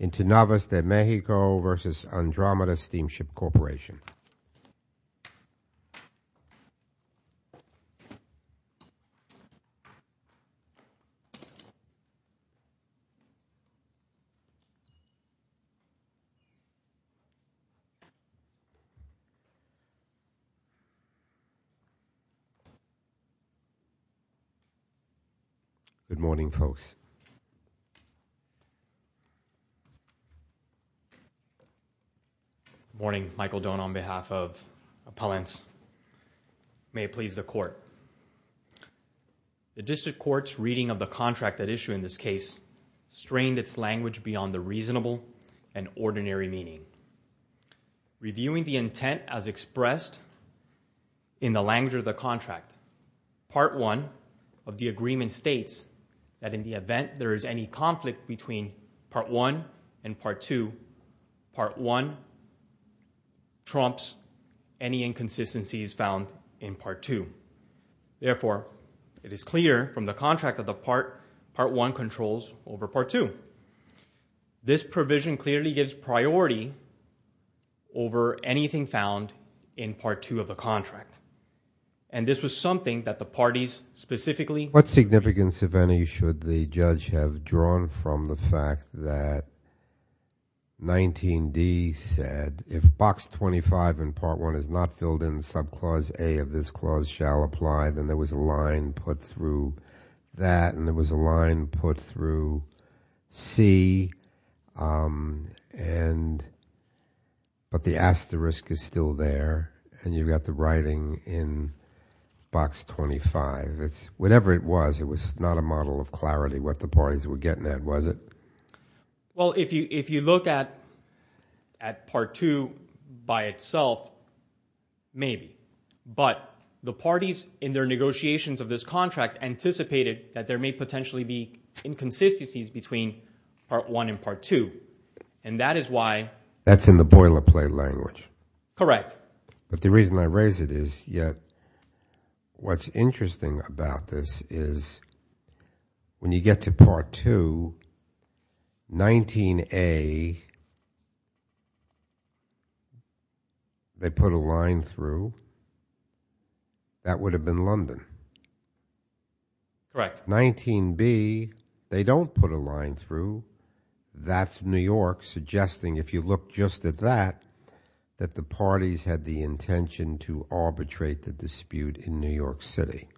Into Navas de Mexico versus Andromeda Steamship Corporation. Good morning, folks. Good morning, Michael Doan on behalf of Appellants. May it please the Court. The District Court's reading of the contract at issue in this case strained its language beyond the reasonable and ordinary meaning. Reviewing the intent as expressed in the language of the contract, Part 1 of the agreement states that in the event there is any conflict between Part 1 and Part 2, Part 1 trumps any inconsistencies found in Part 2. Therefore, it is clear from the contract that the Part 1 controls over Part 2. This provision clearly gives priority over anything found in Part 2 of the contract. And this was something that the parties specifically What significance, if any, should the judge have drawn from the fact that 19d said if Box 25 in Part 1 is not filled in, subclause A of this clause shall apply, then there was a line put through that and there was a line put through C and but the asterisk is still there and you've got the writing in Box 25. Whatever it was, it was not a model of clarity what the parties were getting at, was it? Well, if you look at Part 2 by itself, maybe. But the parties in their negotiations of this contract anticipated that there may potentially be inconsistencies between Part 1 and Part 2. And that is why That's in the boilerplate language. Correct. But the reason I raise it is yet what's interesting about this is when you get to Part 2, 19a, they put a line through. That would have been London. Correct. 19b, they don't put a line through. That's New York suggesting, if you look just at that, that the parties had the intention to arbitrate the dispute in New York City.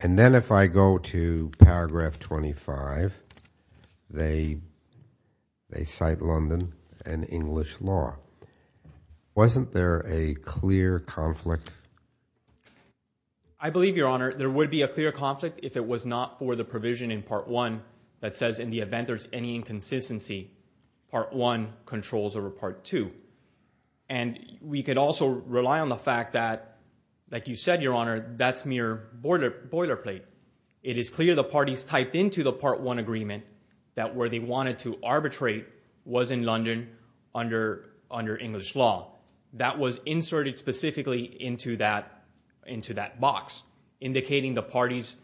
And then if I go to paragraph 25, they cite London and English law. Wasn't there a clear conflict? I believe, Your Honor, there would be a clear conflict if it was not for the provision in Part 1 that says, in the event there's any inconsistency, Part 1 controls over Part 2. And we could also rely on the fact that, like you said, Your Honor, that's mere boilerplate. It is clear the parties typed into the Part 1 agreement that where they wanted to arbitrate was in London under English law. That was inserted specifically into that box, indicating the parties,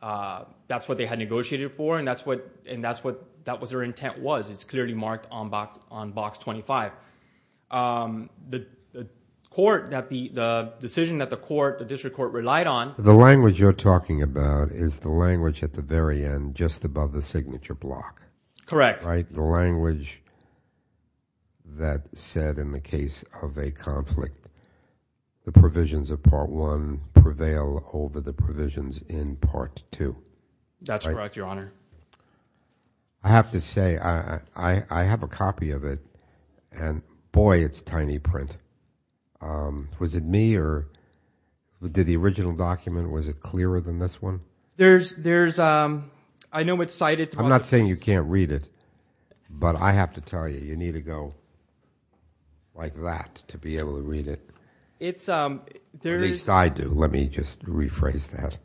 that's what they had negotiated for, and that's what their intent was. It's clearly marked on box 25. The court, the decision that the court, the district court, relied on. The language you're talking about is the language at the very end, just above the signature block. Correct. The language that said, in the case of a conflict, the provisions of Part 1 prevail over the provisions in Part 2. That's correct, Your Honor. I have to say, I have a copy of it, and boy, it's tiny print. Was it me, or did the original document, was it clearer than this one? I know it's cited. I'm not saying you can't read it, but I have to tell you, you need to go like that to be able to read it, at least I do. Let me just rephrase that.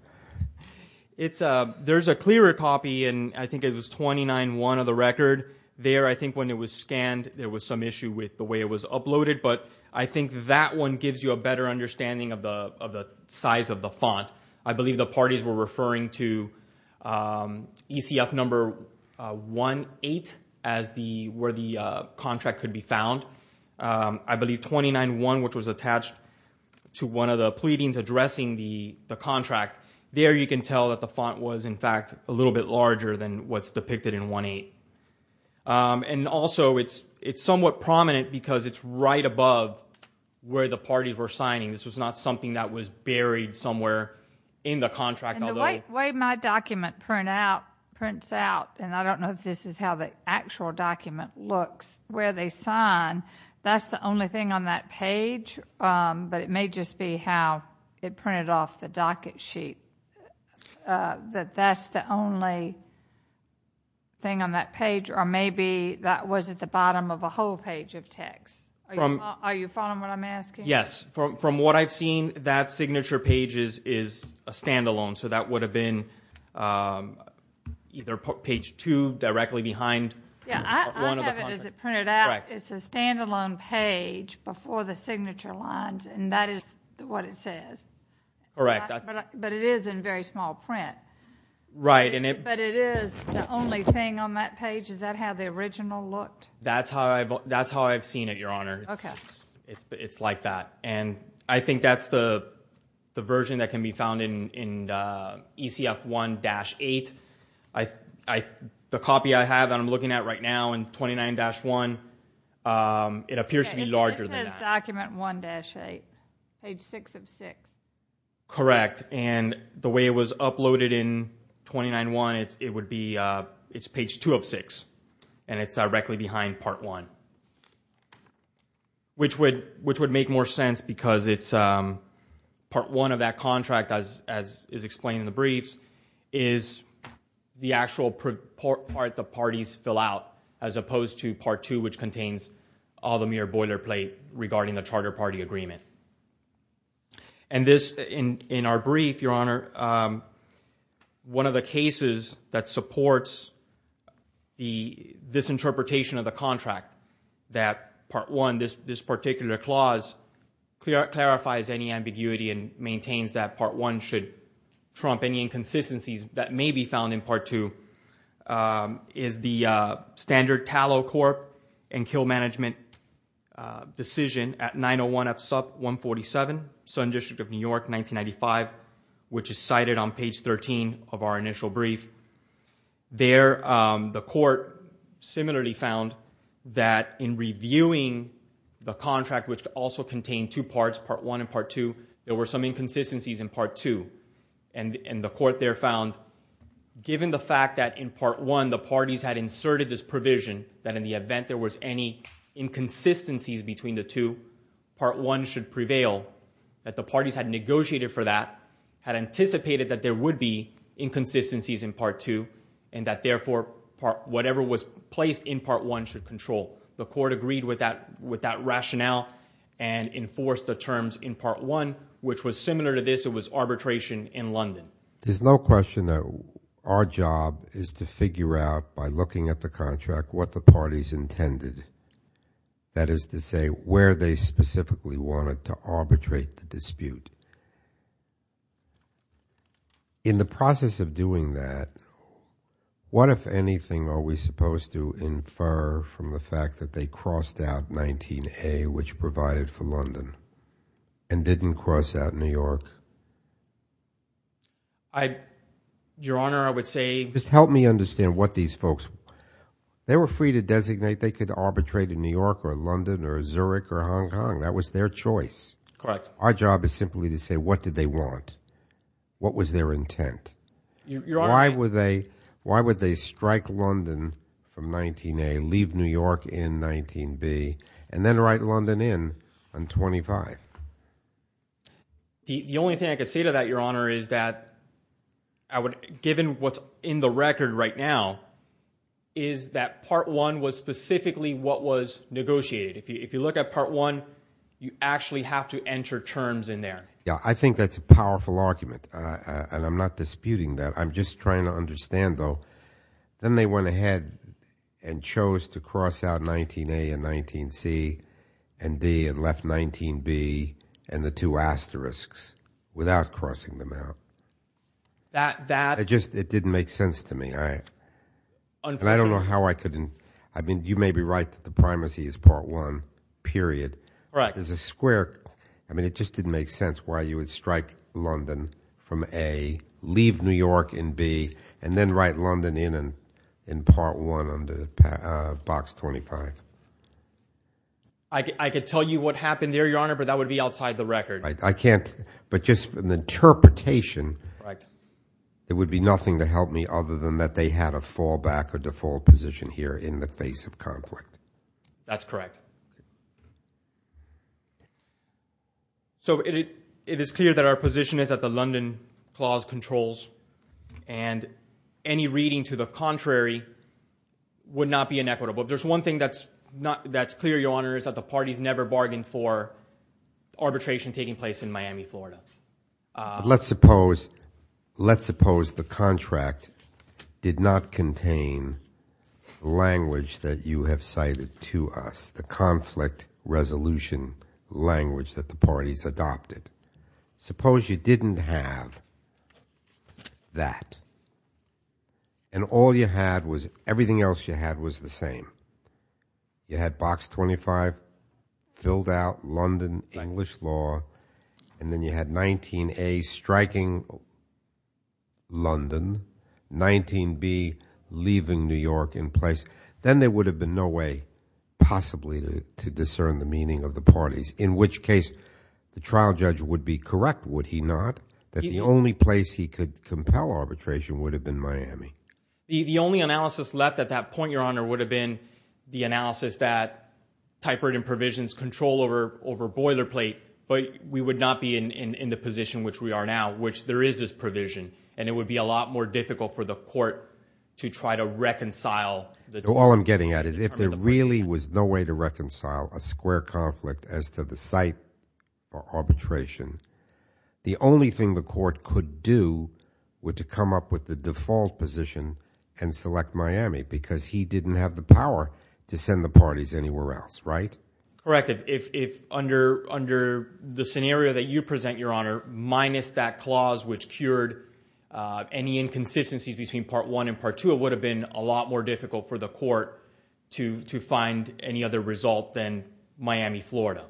There's a clearer copy, and I think it was 29.1 of the record. There I think when it was scanned, there was some issue with the way it was uploaded, but I think that one gives you a better understanding of the size of the font. I believe the parties were referring to ECF number 18, where the contract could be found. I believe 29.1, which was attached to one of the pleadings addressing the contract, there you can tell that the font was, in fact, a little bit larger than what's depicted in 18. Also, it's somewhat prominent because it's right above where the parties were signing. This was not something that was buried somewhere in the contract. The way my document prints out, and I don't know if this is how the actual document looks, where they sign, that's the only thing on that page, but it may just be how it printed off the docket sheet, that that's the only thing on that page, or maybe that was at the bottom of a whole page of text. Are you following what I'm asking? Yes. From what I've seen, that signature page is a standalone, so that would have been either page two, directly behind one of the contracts. I have it as it printed out. It's a standalone page before the signature lines, and that is what it says, but it is in very small print, but it is, the only thing on that page, is that how the original looked? That's how I've seen it, Your Honor. It's like that. I think that's the version that can be found in ECF 1-8. The copy I have that I'm looking at right now in 29-1, it appears to be larger than that. It says document 1-8, page six of six. Correct. The way it was uploaded in 29-1, it's page two of six, and it's directly behind part one, which would make more sense because it's part one of that contract, as is explained in the briefs, is the actual part the parties fill out, as opposed to part two, which contains all the mere boilerplate regarding the charter party agreement. This, in our brief, Your Honor, one of the cases that supports this interpretation of the contract, that part one, this particular clause, clarifies any ambiguity and maintains that part one should trump any inconsistencies that may be found in part two, is the standard tallow corp and kill management decision at 901 F SUP 147, Southern District of New York, 1995, which is cited on page 13 of our initial brief. The court similarly found that in reviewing the contract, which also contained two parts, part one and part two, there were some inconsistencies in part two. The court there found, given the fact that in part one, the parties had inserted this provision that in the event there was any inconsistencies between the two, part one should prevail, that the parties had negotiated for that, had anticipated that there would be inconsistencies in part two, and that therefore, whatever was placed in part one should control. The court agreed with that rationale and enforced the terms in part one, which was similar to this, it was arbitration in London. There's no question that our job is to figure out by looking at the contract what the parties intended, that is to say, where they specifically wanted to arbitrate the dispute. In the process of doing that, what if anything are we supposed to infer from the fact that they crossed out 19A, which provided for London, and didn't cross out New York? Your Honor, I would say... Just help me understand what these folks... They were free to designate. They could arbitrate in New York or London or Zurich or Hong Kong. That was their choice. Correct. Our job is simply to say, what did they want? What was their intent? Your Honor, I... The only thing I can say to that, Your Honor, is that given what's in the record right now, is that part one was specifically what was negotiated. If you look at part one, you actually have to enter terms in there. Yeah. I think that's a powerful argument, and I'm not disputing that. I'm just trying to understand, though. Then they went ahead and chose to cross out 19A and 19C and D, and left 19B and the two asterisks without crossing them out. It didn't make sense to me, and I don't know how I couldn't... I mean, you may be right that the primacy is part one, period. Correct. There's a square... I mean, it just didn't make sense why you would strike London from A, leave New York in B, and then write London in in part one under box 25. I could tell you what happened there, Your Honor, but that would be outside the record. I can't... But just from the interpretation, it would be nothing to help me other than that they had a fallback or default position here in the face of conflict. That's correct. So, it is clear that our position is that the London clause controls, and any reading to the contrary would not be inequitable. There's one thing that's clear, Your Honor, is that the parties never bargained for arbitration taking place in Miami, Florida. Let's suppose the contract did not contain language that you have cited to us. It's the conflict resolution language that the parties adopted. Suppose you didn't have that, and all you had was... everything else you had was the same. You had box 25 filled out, London, English law, and then you had 19A striking London, 19B leaving New York in place. Then there would have been no way, possibly, to discern the meaning of the parties. In which case, the trial judge would be correct, would he not, that the only place he could compel arbitration would have been Miami. The only analysis left at that point, Your Honor, would have been the analysis that type burden provisions control over boilerplate, but we would not be in the position which we are now, which there is this provision, and it would be a lot more difficult for the All I'm getting at is if there really was no way to reconcile a square conflict as to the site for arbitration, the only thing the court could do would to come up with the default position and select Miami because he didn't have the power to send the parties anywhere else, right? Correct. If under the scenario that you present, Your Honor, minus that clause which cured any inconsistencies between Part 1 and Part 2, it would have been a lot more difficult for the court to find any other result than Miami, Florida,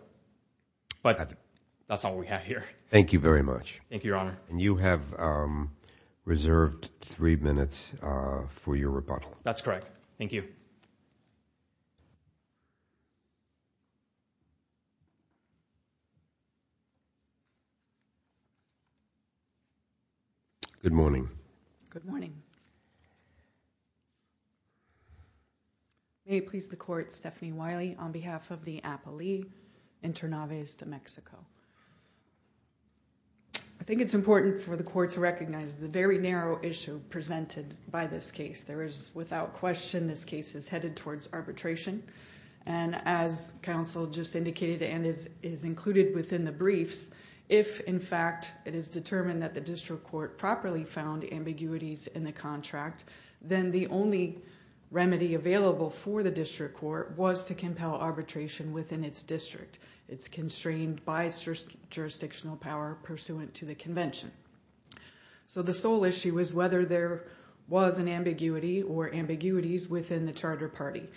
but that's all we have here. Thank you very much. Thank you, Your Honor. And you have reserved three minutes for your rebuttal. That's correct. Thank you. Good morning. Good morning. May it please the court, Stephanie Wiley, on behalf of the Appalee Internaves de Mexico. I think it's important for the court to recognize the very narrow issue presented by this case. There is without question this case is headed towards arbitration, and as counsel just indicated and is included within the briefs, if in fact it is determined that the district court properly found ambiguities in the contract, then the only remedy available for the district court was to compel arbitration within its district. It's constrained by jurisdictional power pursuant to the convention. So the sole issue is whether there was an ambiguity or ambiguities within the charter party.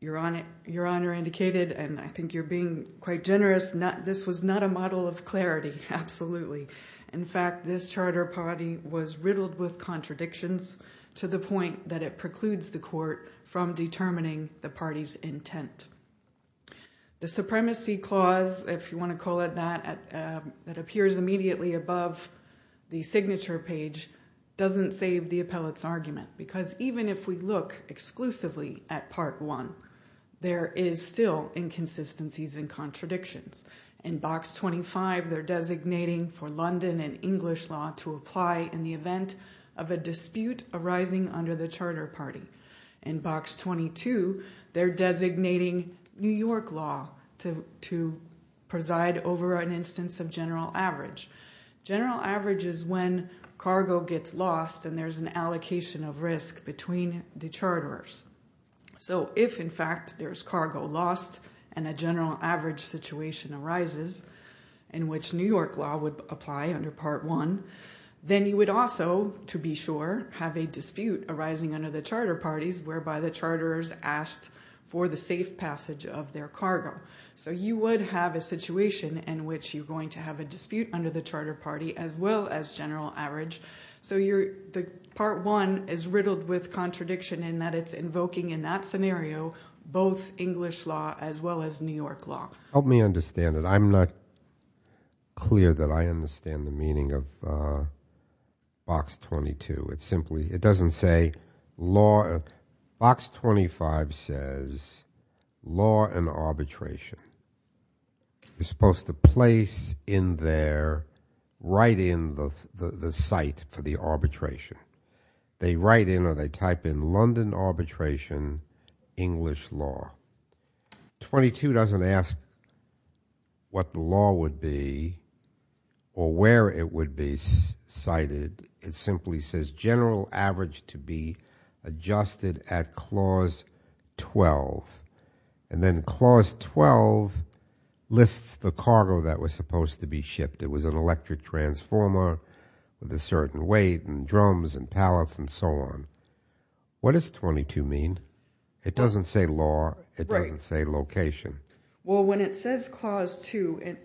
Your Honor indicated, and I think you're being quite generous, this was not a model of clarity, absolutely. In fact, this charter party was riddled with contradictions to the point that it precludes the court from determining the party's intent. The supremacy clause, if you want to call it that, that appears immediately above the signature page doesn't save the appellate's argument, because even if we look exclusively at part one, there is still inconsistencies and contradictions. In box 25, they're designating for London and English law to apply in the event of a dispute arising under the charter party. In box 22, they're designating New York law to preside over an instance of general average. General average is when cargo gets lost and there's an allocation of risk between the charters. So if, in fact, there's cargo lost and a general average situation arises in which New York law would apply under part one, then you would also, to be sure, have a dispute arising under the charter parties whereby the charters asked for the safe passage of their cargo. So you would have a situation in which you're going to have a dispute under the charter party as well as general average. So you're, the part one is riddled with contradiction in that it's invoking in that scenario both English law as well as New York law. Help me understand it. I'm not clear that I understand the meaning of box 22. It simply, it doesn't say law, box 25 says law and arbitration is supposed to place in there, write in the site for the arbitration. They write in or they type in London arbitration, English law. 22 doesn't ask what the law would be or where it would be cited. It simply says general average to be adjusted at clause 12 and then clause 12 lists the ship. It was an electric transformer with a certain weight and drums and pallets and so on. What does 22 mean? It doesn't say law. It doesn't say location. Well, when it says clause two,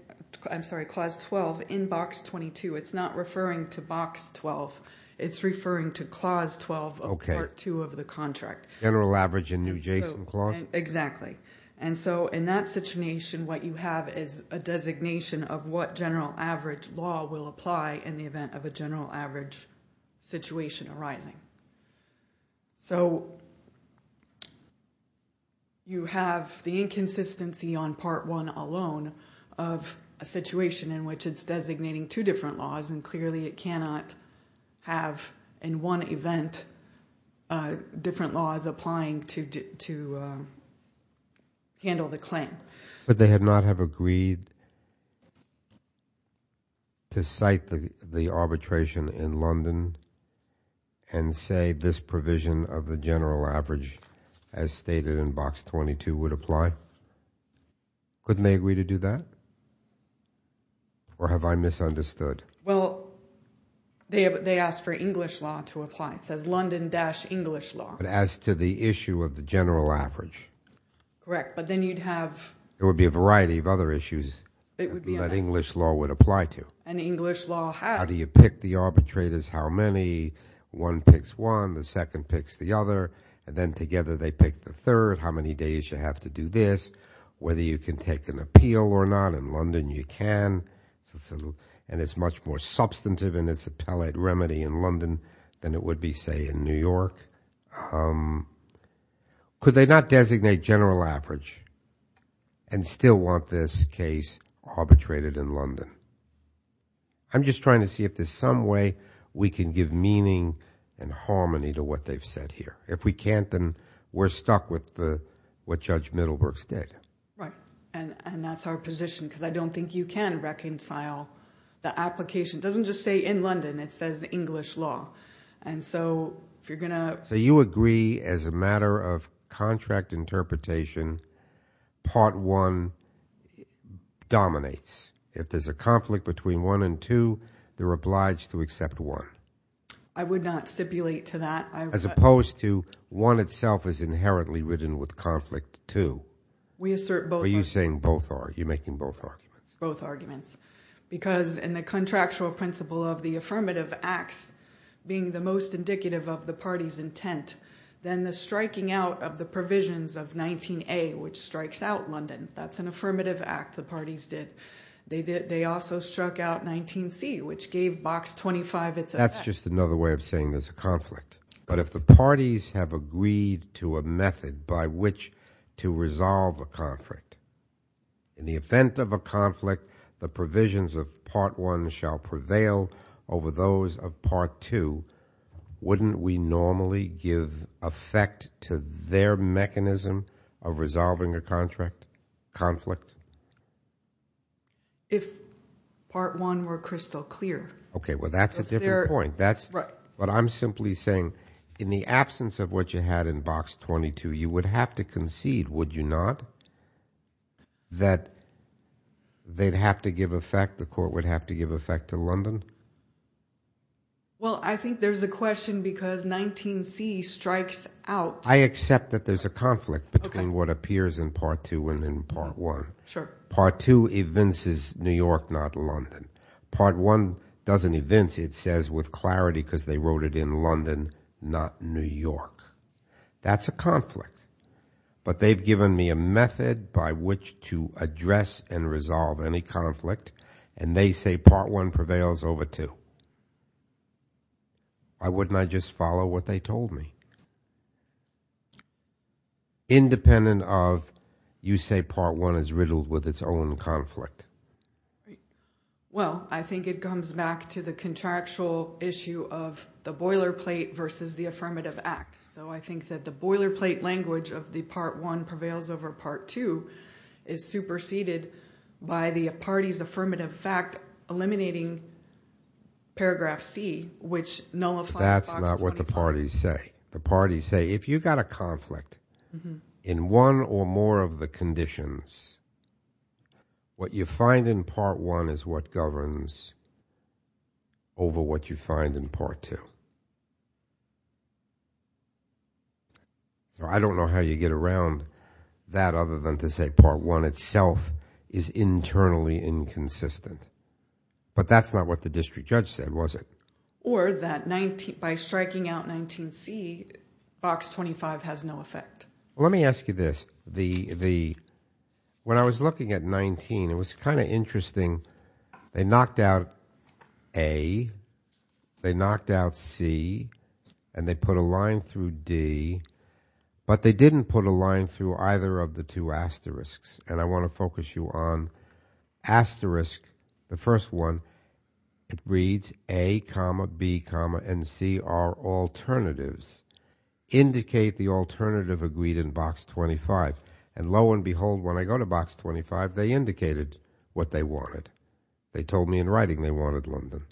I'm sorry, clause 12 in box 22, it's not referring to box 12. It's referring to clause 12 of part two of the contract. General average in new Jason clause. Exactly. In that situation, what you have is a designation of what general average law will apply in the event of a general average situation arising. You have the inconsistency on part one alone of a situation in which it's designating two the claim. But they have not have agreed to cite the arbitration in London and say this provision of the general average as stated in box 22 would apply? Couldn't they agree to do that? Or have I misunderstood? Well, they asked for English law to apply. It says London dash English law. But as to the issue of the general average. Correct. But then you'd have. There would be a variety of other issues that English law would apply to. And English law has. How do you pick the arbitrators? How many? One picks one, the second picks the other, and then together they pick the third. How many days you have to do this? Whether you can take an appeal or not in London, you can. And it's much more substantive in its appellate remedy in London than it would be, say, in England. Could they not designate general average and still want this case arbitrated in London? I'm just trying to see if there's some way we can give meaning and harmony to what they've said here. If we can't, then we're stuck with what Judge Middlebrooks did. Right. And that's our position. Because I don't think you can reconcile the application. Doesn't just say in London, it says English law. And so if you're going to. So you agree as a matter of contract interpretation, part one dominates. If there's a conflict between one and two, they're obliged to accept one. I would not stipulate to that. As opposed to one itself is inherently ridden with conflict, too. We assert both. Are you saying both are? You're making both arguments? Both arguments. Because in the contractual principle of the affirmative acts being the most indicative of the party's intent, then the striking out of the provisions of 19A, which strikes out London, that's an affirmative act, the parties did. They also struck out 19C, which gave box 25 its effect. That's just another way of saying there's a conflict. But if the parties have agreed to a method by which to resolve a conflict, in the event of a conflict, the provisions of part one shall prevail over those of part two, wouldn't we normally give effect to their mechanism of resolving a conflict? If part one were crystal clear. Okay. Well, that's a different point. But I'm simply saying in the absence of what you had in box 22, you would have to concede, would you not? That they'd have to give effect, the court would have to give effect to London? Well, I think there's a question because 19C strikes out. I accept that there's a conflict between what appears in part two and in part one. Part two evinces New York, not London. Part one doesn't evince. It says with clarity because they wrote it in London, not New York. That's a conflict. But they've given me a method by which to address and resolve any conflict. And they say part one prevails over two. Why wouldn't I just follow what they told me? Independent of you say part one is riddled with its own conflict. Well, I think it comes back to the contractual issue of the boilerplate versus the affirmative act. So I think that the boilerplate language of the part one prevails over part two is superseded by the party's affirmative fact eliminating paragraph C, which nullifies box 24. That's not what the parties say. The parties say if you've got a conflict in one or more of the conditions, what you find in part one is what governs over what you find in part two. I don't know how you get around that other than to say part one itself is internally inconsistent. But that's not what the district judge said, was it? Or that by striking out 19C, box 25 has no effect. Let me ask you this. When I was looking at 19, it was kind of interesting. They knocked out A. They knocked out C. And they put a line through D. But they didn't put a line through either of the two asterisks. And I want to focus you on asterisk, the first one. It reads A, B, and C are alternatives. Indicate the alternative agreed in box 25. And lo and behold, when I go to box 25, they indicated what they wanted. They told me in writing they wanted London.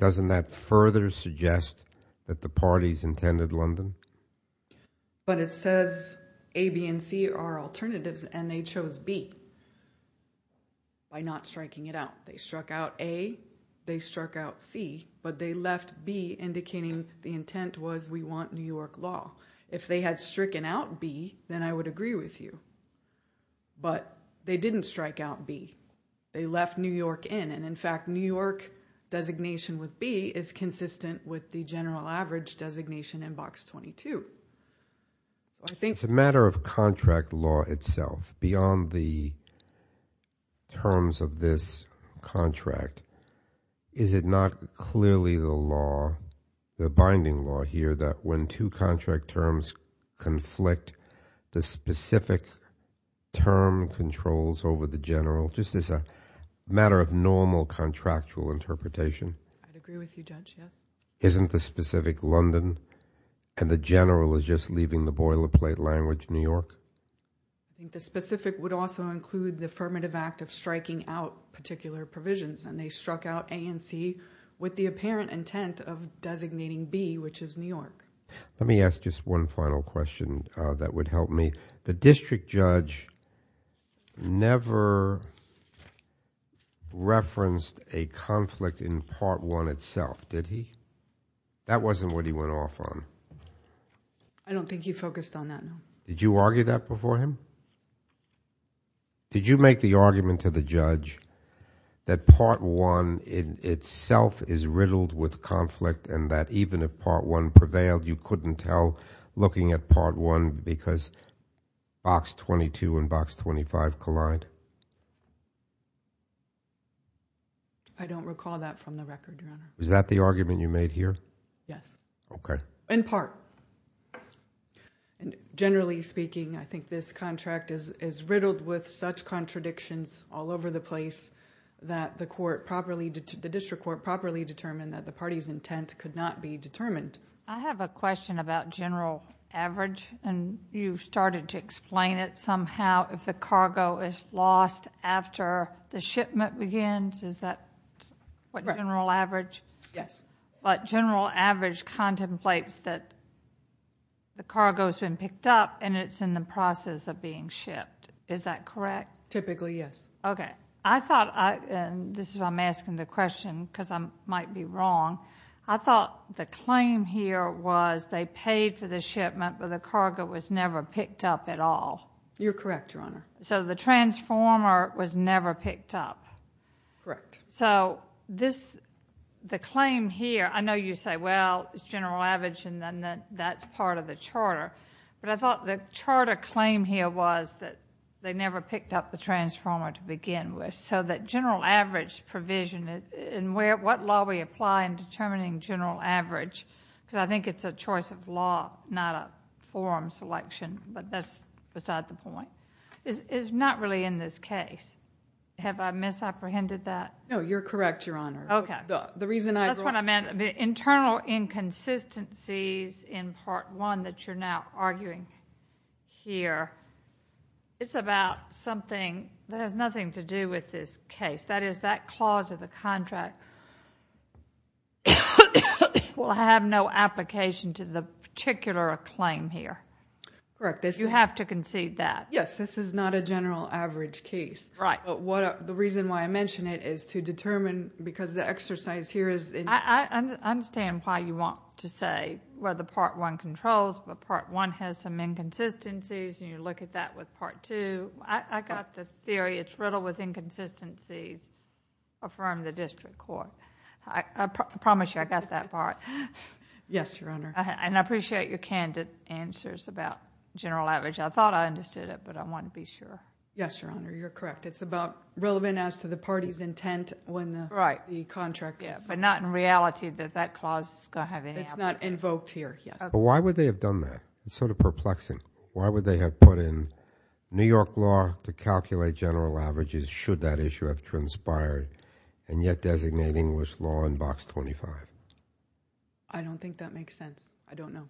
Doesn't that further suggest that the parties intended London? But it says A, B, and C are alternatives. And they chose B by not striking it out. They struck out A. They struck out C. But they left B, indicating the intent was we want New York law. If they had stricken out B, then I would agree with you. But they didn't strike out B. They left New York in. And in fact, New York designation with B is consistent with the general average designation in box 22. I think... It's a matter of contract law itself, beyond the terms of this contract. Is it not clearly the law, the binding law here, that when two contract terms conflict, the specific term controls over the general, just as a matter of normal contractual interpretation? I'd agree with you, Judge, yes. Isn't the specific London and the general is just leaving the boilerplate language New York? I think the specific would also include the affirmative act of striking out particular provisions and they struck out A and C with the apparent intent of designating B, which is New York. Let me ask just one final question that would help me. The district judge never referenced a conflict in part one itself, did he? That wasn't what he went off on. I don't think he focused on that. Did you argue that before him? Did you make the argument to the judge that part one in itself is riddled with conflict and that even if part one prevailed, you couldn't tell looking at part one because box 22 and box 25 collide? I don't recall that from the record, Your Honor. Is that the argument you made here? Yes. Okay. In part. Generally speaking, I think this contract is riddled with such contradictions all over the place that the district court properly determined that the party's intent could not be determined. I have a question about general average and you started to explain it somehow if the cargo is lost after the shipment begins. Is that what general average? Yes. But general average contemplates that the cargo has been picked up and it's in the process of being shipped. Is that correct? Typically, yes. Okay. I thought, and this is why I'm asking the question because I might be wrong, I thought the claim here was they paid for the shipment but the cargo was never picked up at all. You're correct, Your Honor. So the transformer was never picked up. Correct. So the claim here, I know you say, well, it's general average and then that's part of the charter. But I thought the charter claim here was that they never picked up the transformer to begin with. So that general average provision and what law we apply in determining general average because I think it's a choice of law, not a forum selection, but that's beside the point, is not really in this case. Have I misapprehended that? No. You're correct, Your Honor. Okay. That's what I meant. The internal inconsistencies in part one that you're now arguing here, it's about something that has nothing to do with this case. That is, that clause of the contract will have no application to the particular claim here. Correct. You have to concede that. Yes. This is not a general average case. Right. The reason why I mention it is to determine because the exercise here is... I understand why you want to say whether part one controls, but part one has some inconsistencies and you look at that with part two. I got the theory it's riddled with inconsistencies from the district court. I promise you I got that part. Yes, Your Honor. And I appreciate your candid answers about general average. I thought I understood it, but I want to be sure. Yes, Your Honor. You're correct. It's about relevant as to the party's intent when the contract is... Right. But not in reality that that clause is going to have any application. It's not invoked here. Yes. Okay. Why would they have done that? It's sort of perplexing. Why would they have put in New York law to calculate general averages should that issue have transpired and yet designate English law in box 25? I don't think that makes sense. I don't know.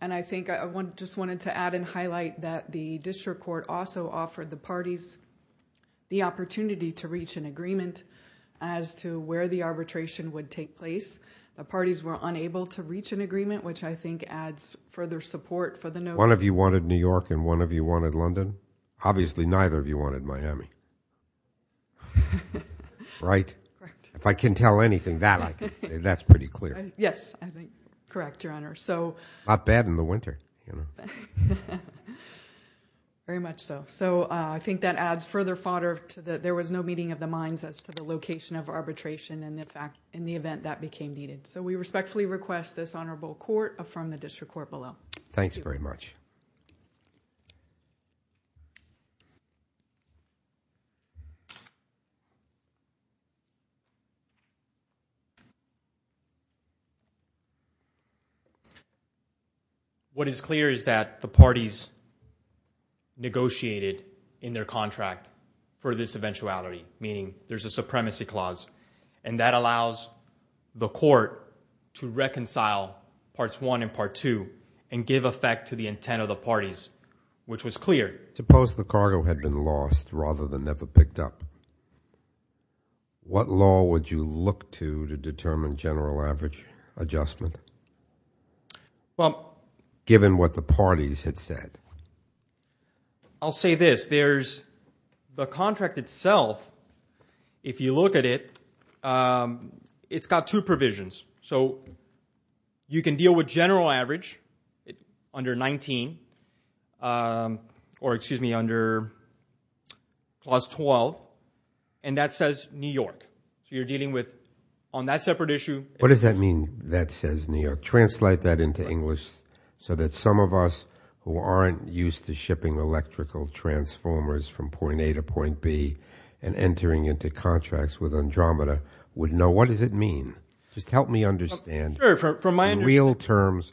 And I think I just wanted to add and highlight that the district court also offered the parties the opportunity to reach an agreement as to where the arbitration would take place. The parties were unable to reach an agreement, which I think adds further support for the notion... One of you wanted New York and one of you wanted London? Obviously neither of you wanted Miami, right? Right. If I can tell anything, that's pretty clear. Yes. I think. Correct, Your Honor. So... Not bad in the winter. Very much so. So I think that adds further fodder to the... there was no meeting of the minds as to the location of arbitration and in fact, in the event that became needed. So we respectfully request this honorable court affirm the district court below. Thanks very much. What is clear is that the parties negotiated in their contract for this eventuality, meaning there's a supremacy clause and that allows the court to reconcile Parts 1 and Part 2 and give effect to the intent of the parties, which was clear. Suppose the cargo had been lost rather than never picked up. What law would you look to to determine general average adjustment, given what the parties had said? I'll say this, there's... the contract itself, if you look at it, it's got two provisions. So you can deal with general average under 19, or excuse me, under Clause 12, and that says New York. So you're dealing with... on that separate issue... What does that mean, that says New York? Translate that into English so that some of us who aren't used to shipping electrical transformers from point A to point B and entering into contracts with Andromeda would know. What does it mean? Just help me understand, in real terms,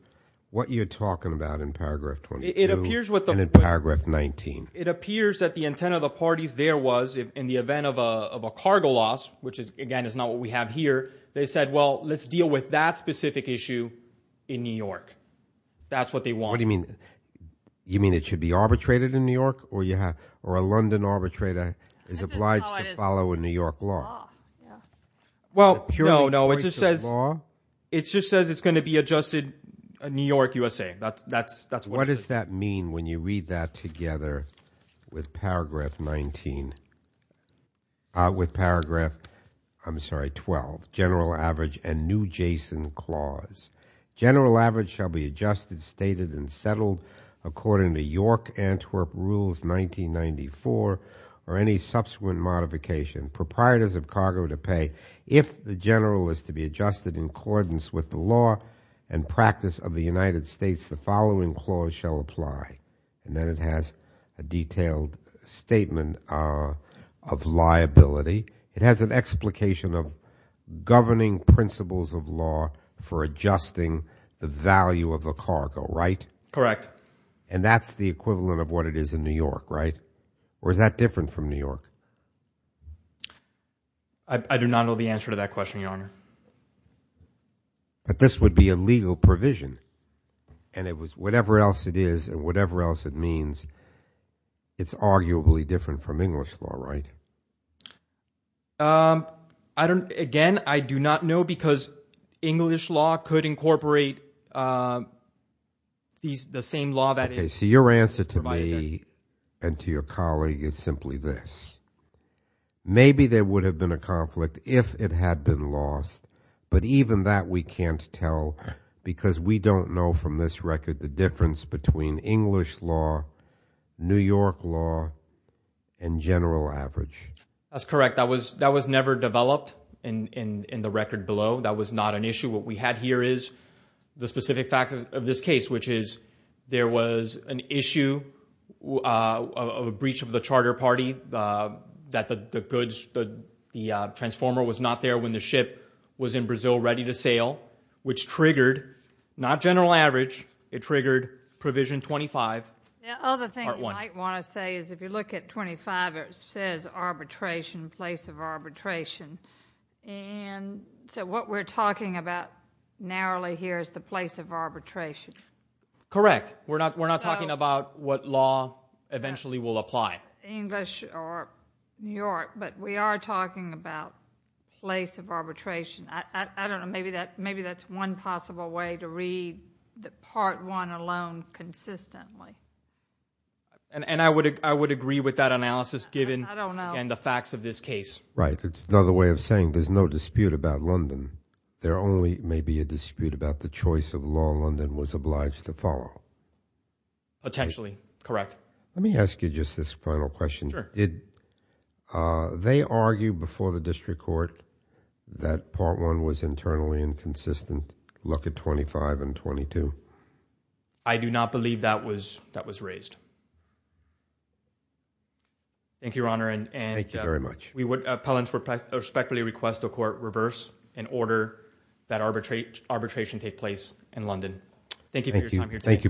what you're talking about in Paragraph 22 and in Paragraph 19. It appears that the intent of the parties there was, in the event of a cargo loss, which again is not what we have here, they said, well, let's deal with that specific issue in New York. That's what they want. What do you mean? You mean it should be arbitrated in New York, or a London arbitrator is obliged to follow a New York law? Well, no, no. It just says it's going to be adjusted in New York, USA. That's what it says. What does that mean when you read that together with Paragraph 19? With Paragraph, I'm sorry, 12, General Average and New Jason Clause. General Average shall be adjusted, stated, and settled according to York Antwerp Rules 1994 or any subsequent modification. Proprietors of cargo to pay, if the general is to be adjusted in accordance with the law and practice of the United States, the following clause shall apply. And then it has a detailed statement of liability. It has an explication of governing principles of law for adjusting the value of the cargo, right? Correct. And that's the equivalent of what it is in New York, right? Or is that different from New York? I do not know the answer to that question, Your Honor. But this would be a legal provision. And it was whatever else it is and whatever else it means, it's arguably different from English law, right? Again, I do not know because English law could incorporate the same law that is provided there. Okay, so your answer to me and to your colleague is simply this. Maybe there would have been a conflict if it had been lost. But even that we can't tell because we don't know from this record the difference between English law, New York law, and general average. That's correct. That was never developed in the record below. That was not an issue. What we had here is the specific facts of this case, which is there was an issue of a breach of the charter party, that the goods, the transformer was not there when the ship was in Brazil ready to sail, which triggered not general average. It triggered Provision 25, Part 1. The other thing you might want to say is if you look at 25, it says arbitration, place of arbitration. And so what we're talking about narrowly here is the place of arbitration. Correct. We're not talking about what law eventually will apply. English or New York, but we are talking about place of arbitration. I don't know. Maybe that's one possible way to read the Part 1 alone consistently. And I would agree with that analysis given the facts of this case. Right. It's another way of saying there's no dispute about London. There only may be a dispute about the choice of law London was obliged to follow. Potentially. Correct. Let me ask you just this final question. Sure. Did they argue before the district court that Part 1 was internally inconsistent? I do not believe that was raised. Thank you, Your Honor. Thank you very much. We would respectfully request the court reverse and order that arbitration take place in London. Thank you for your time here today. Thank you both.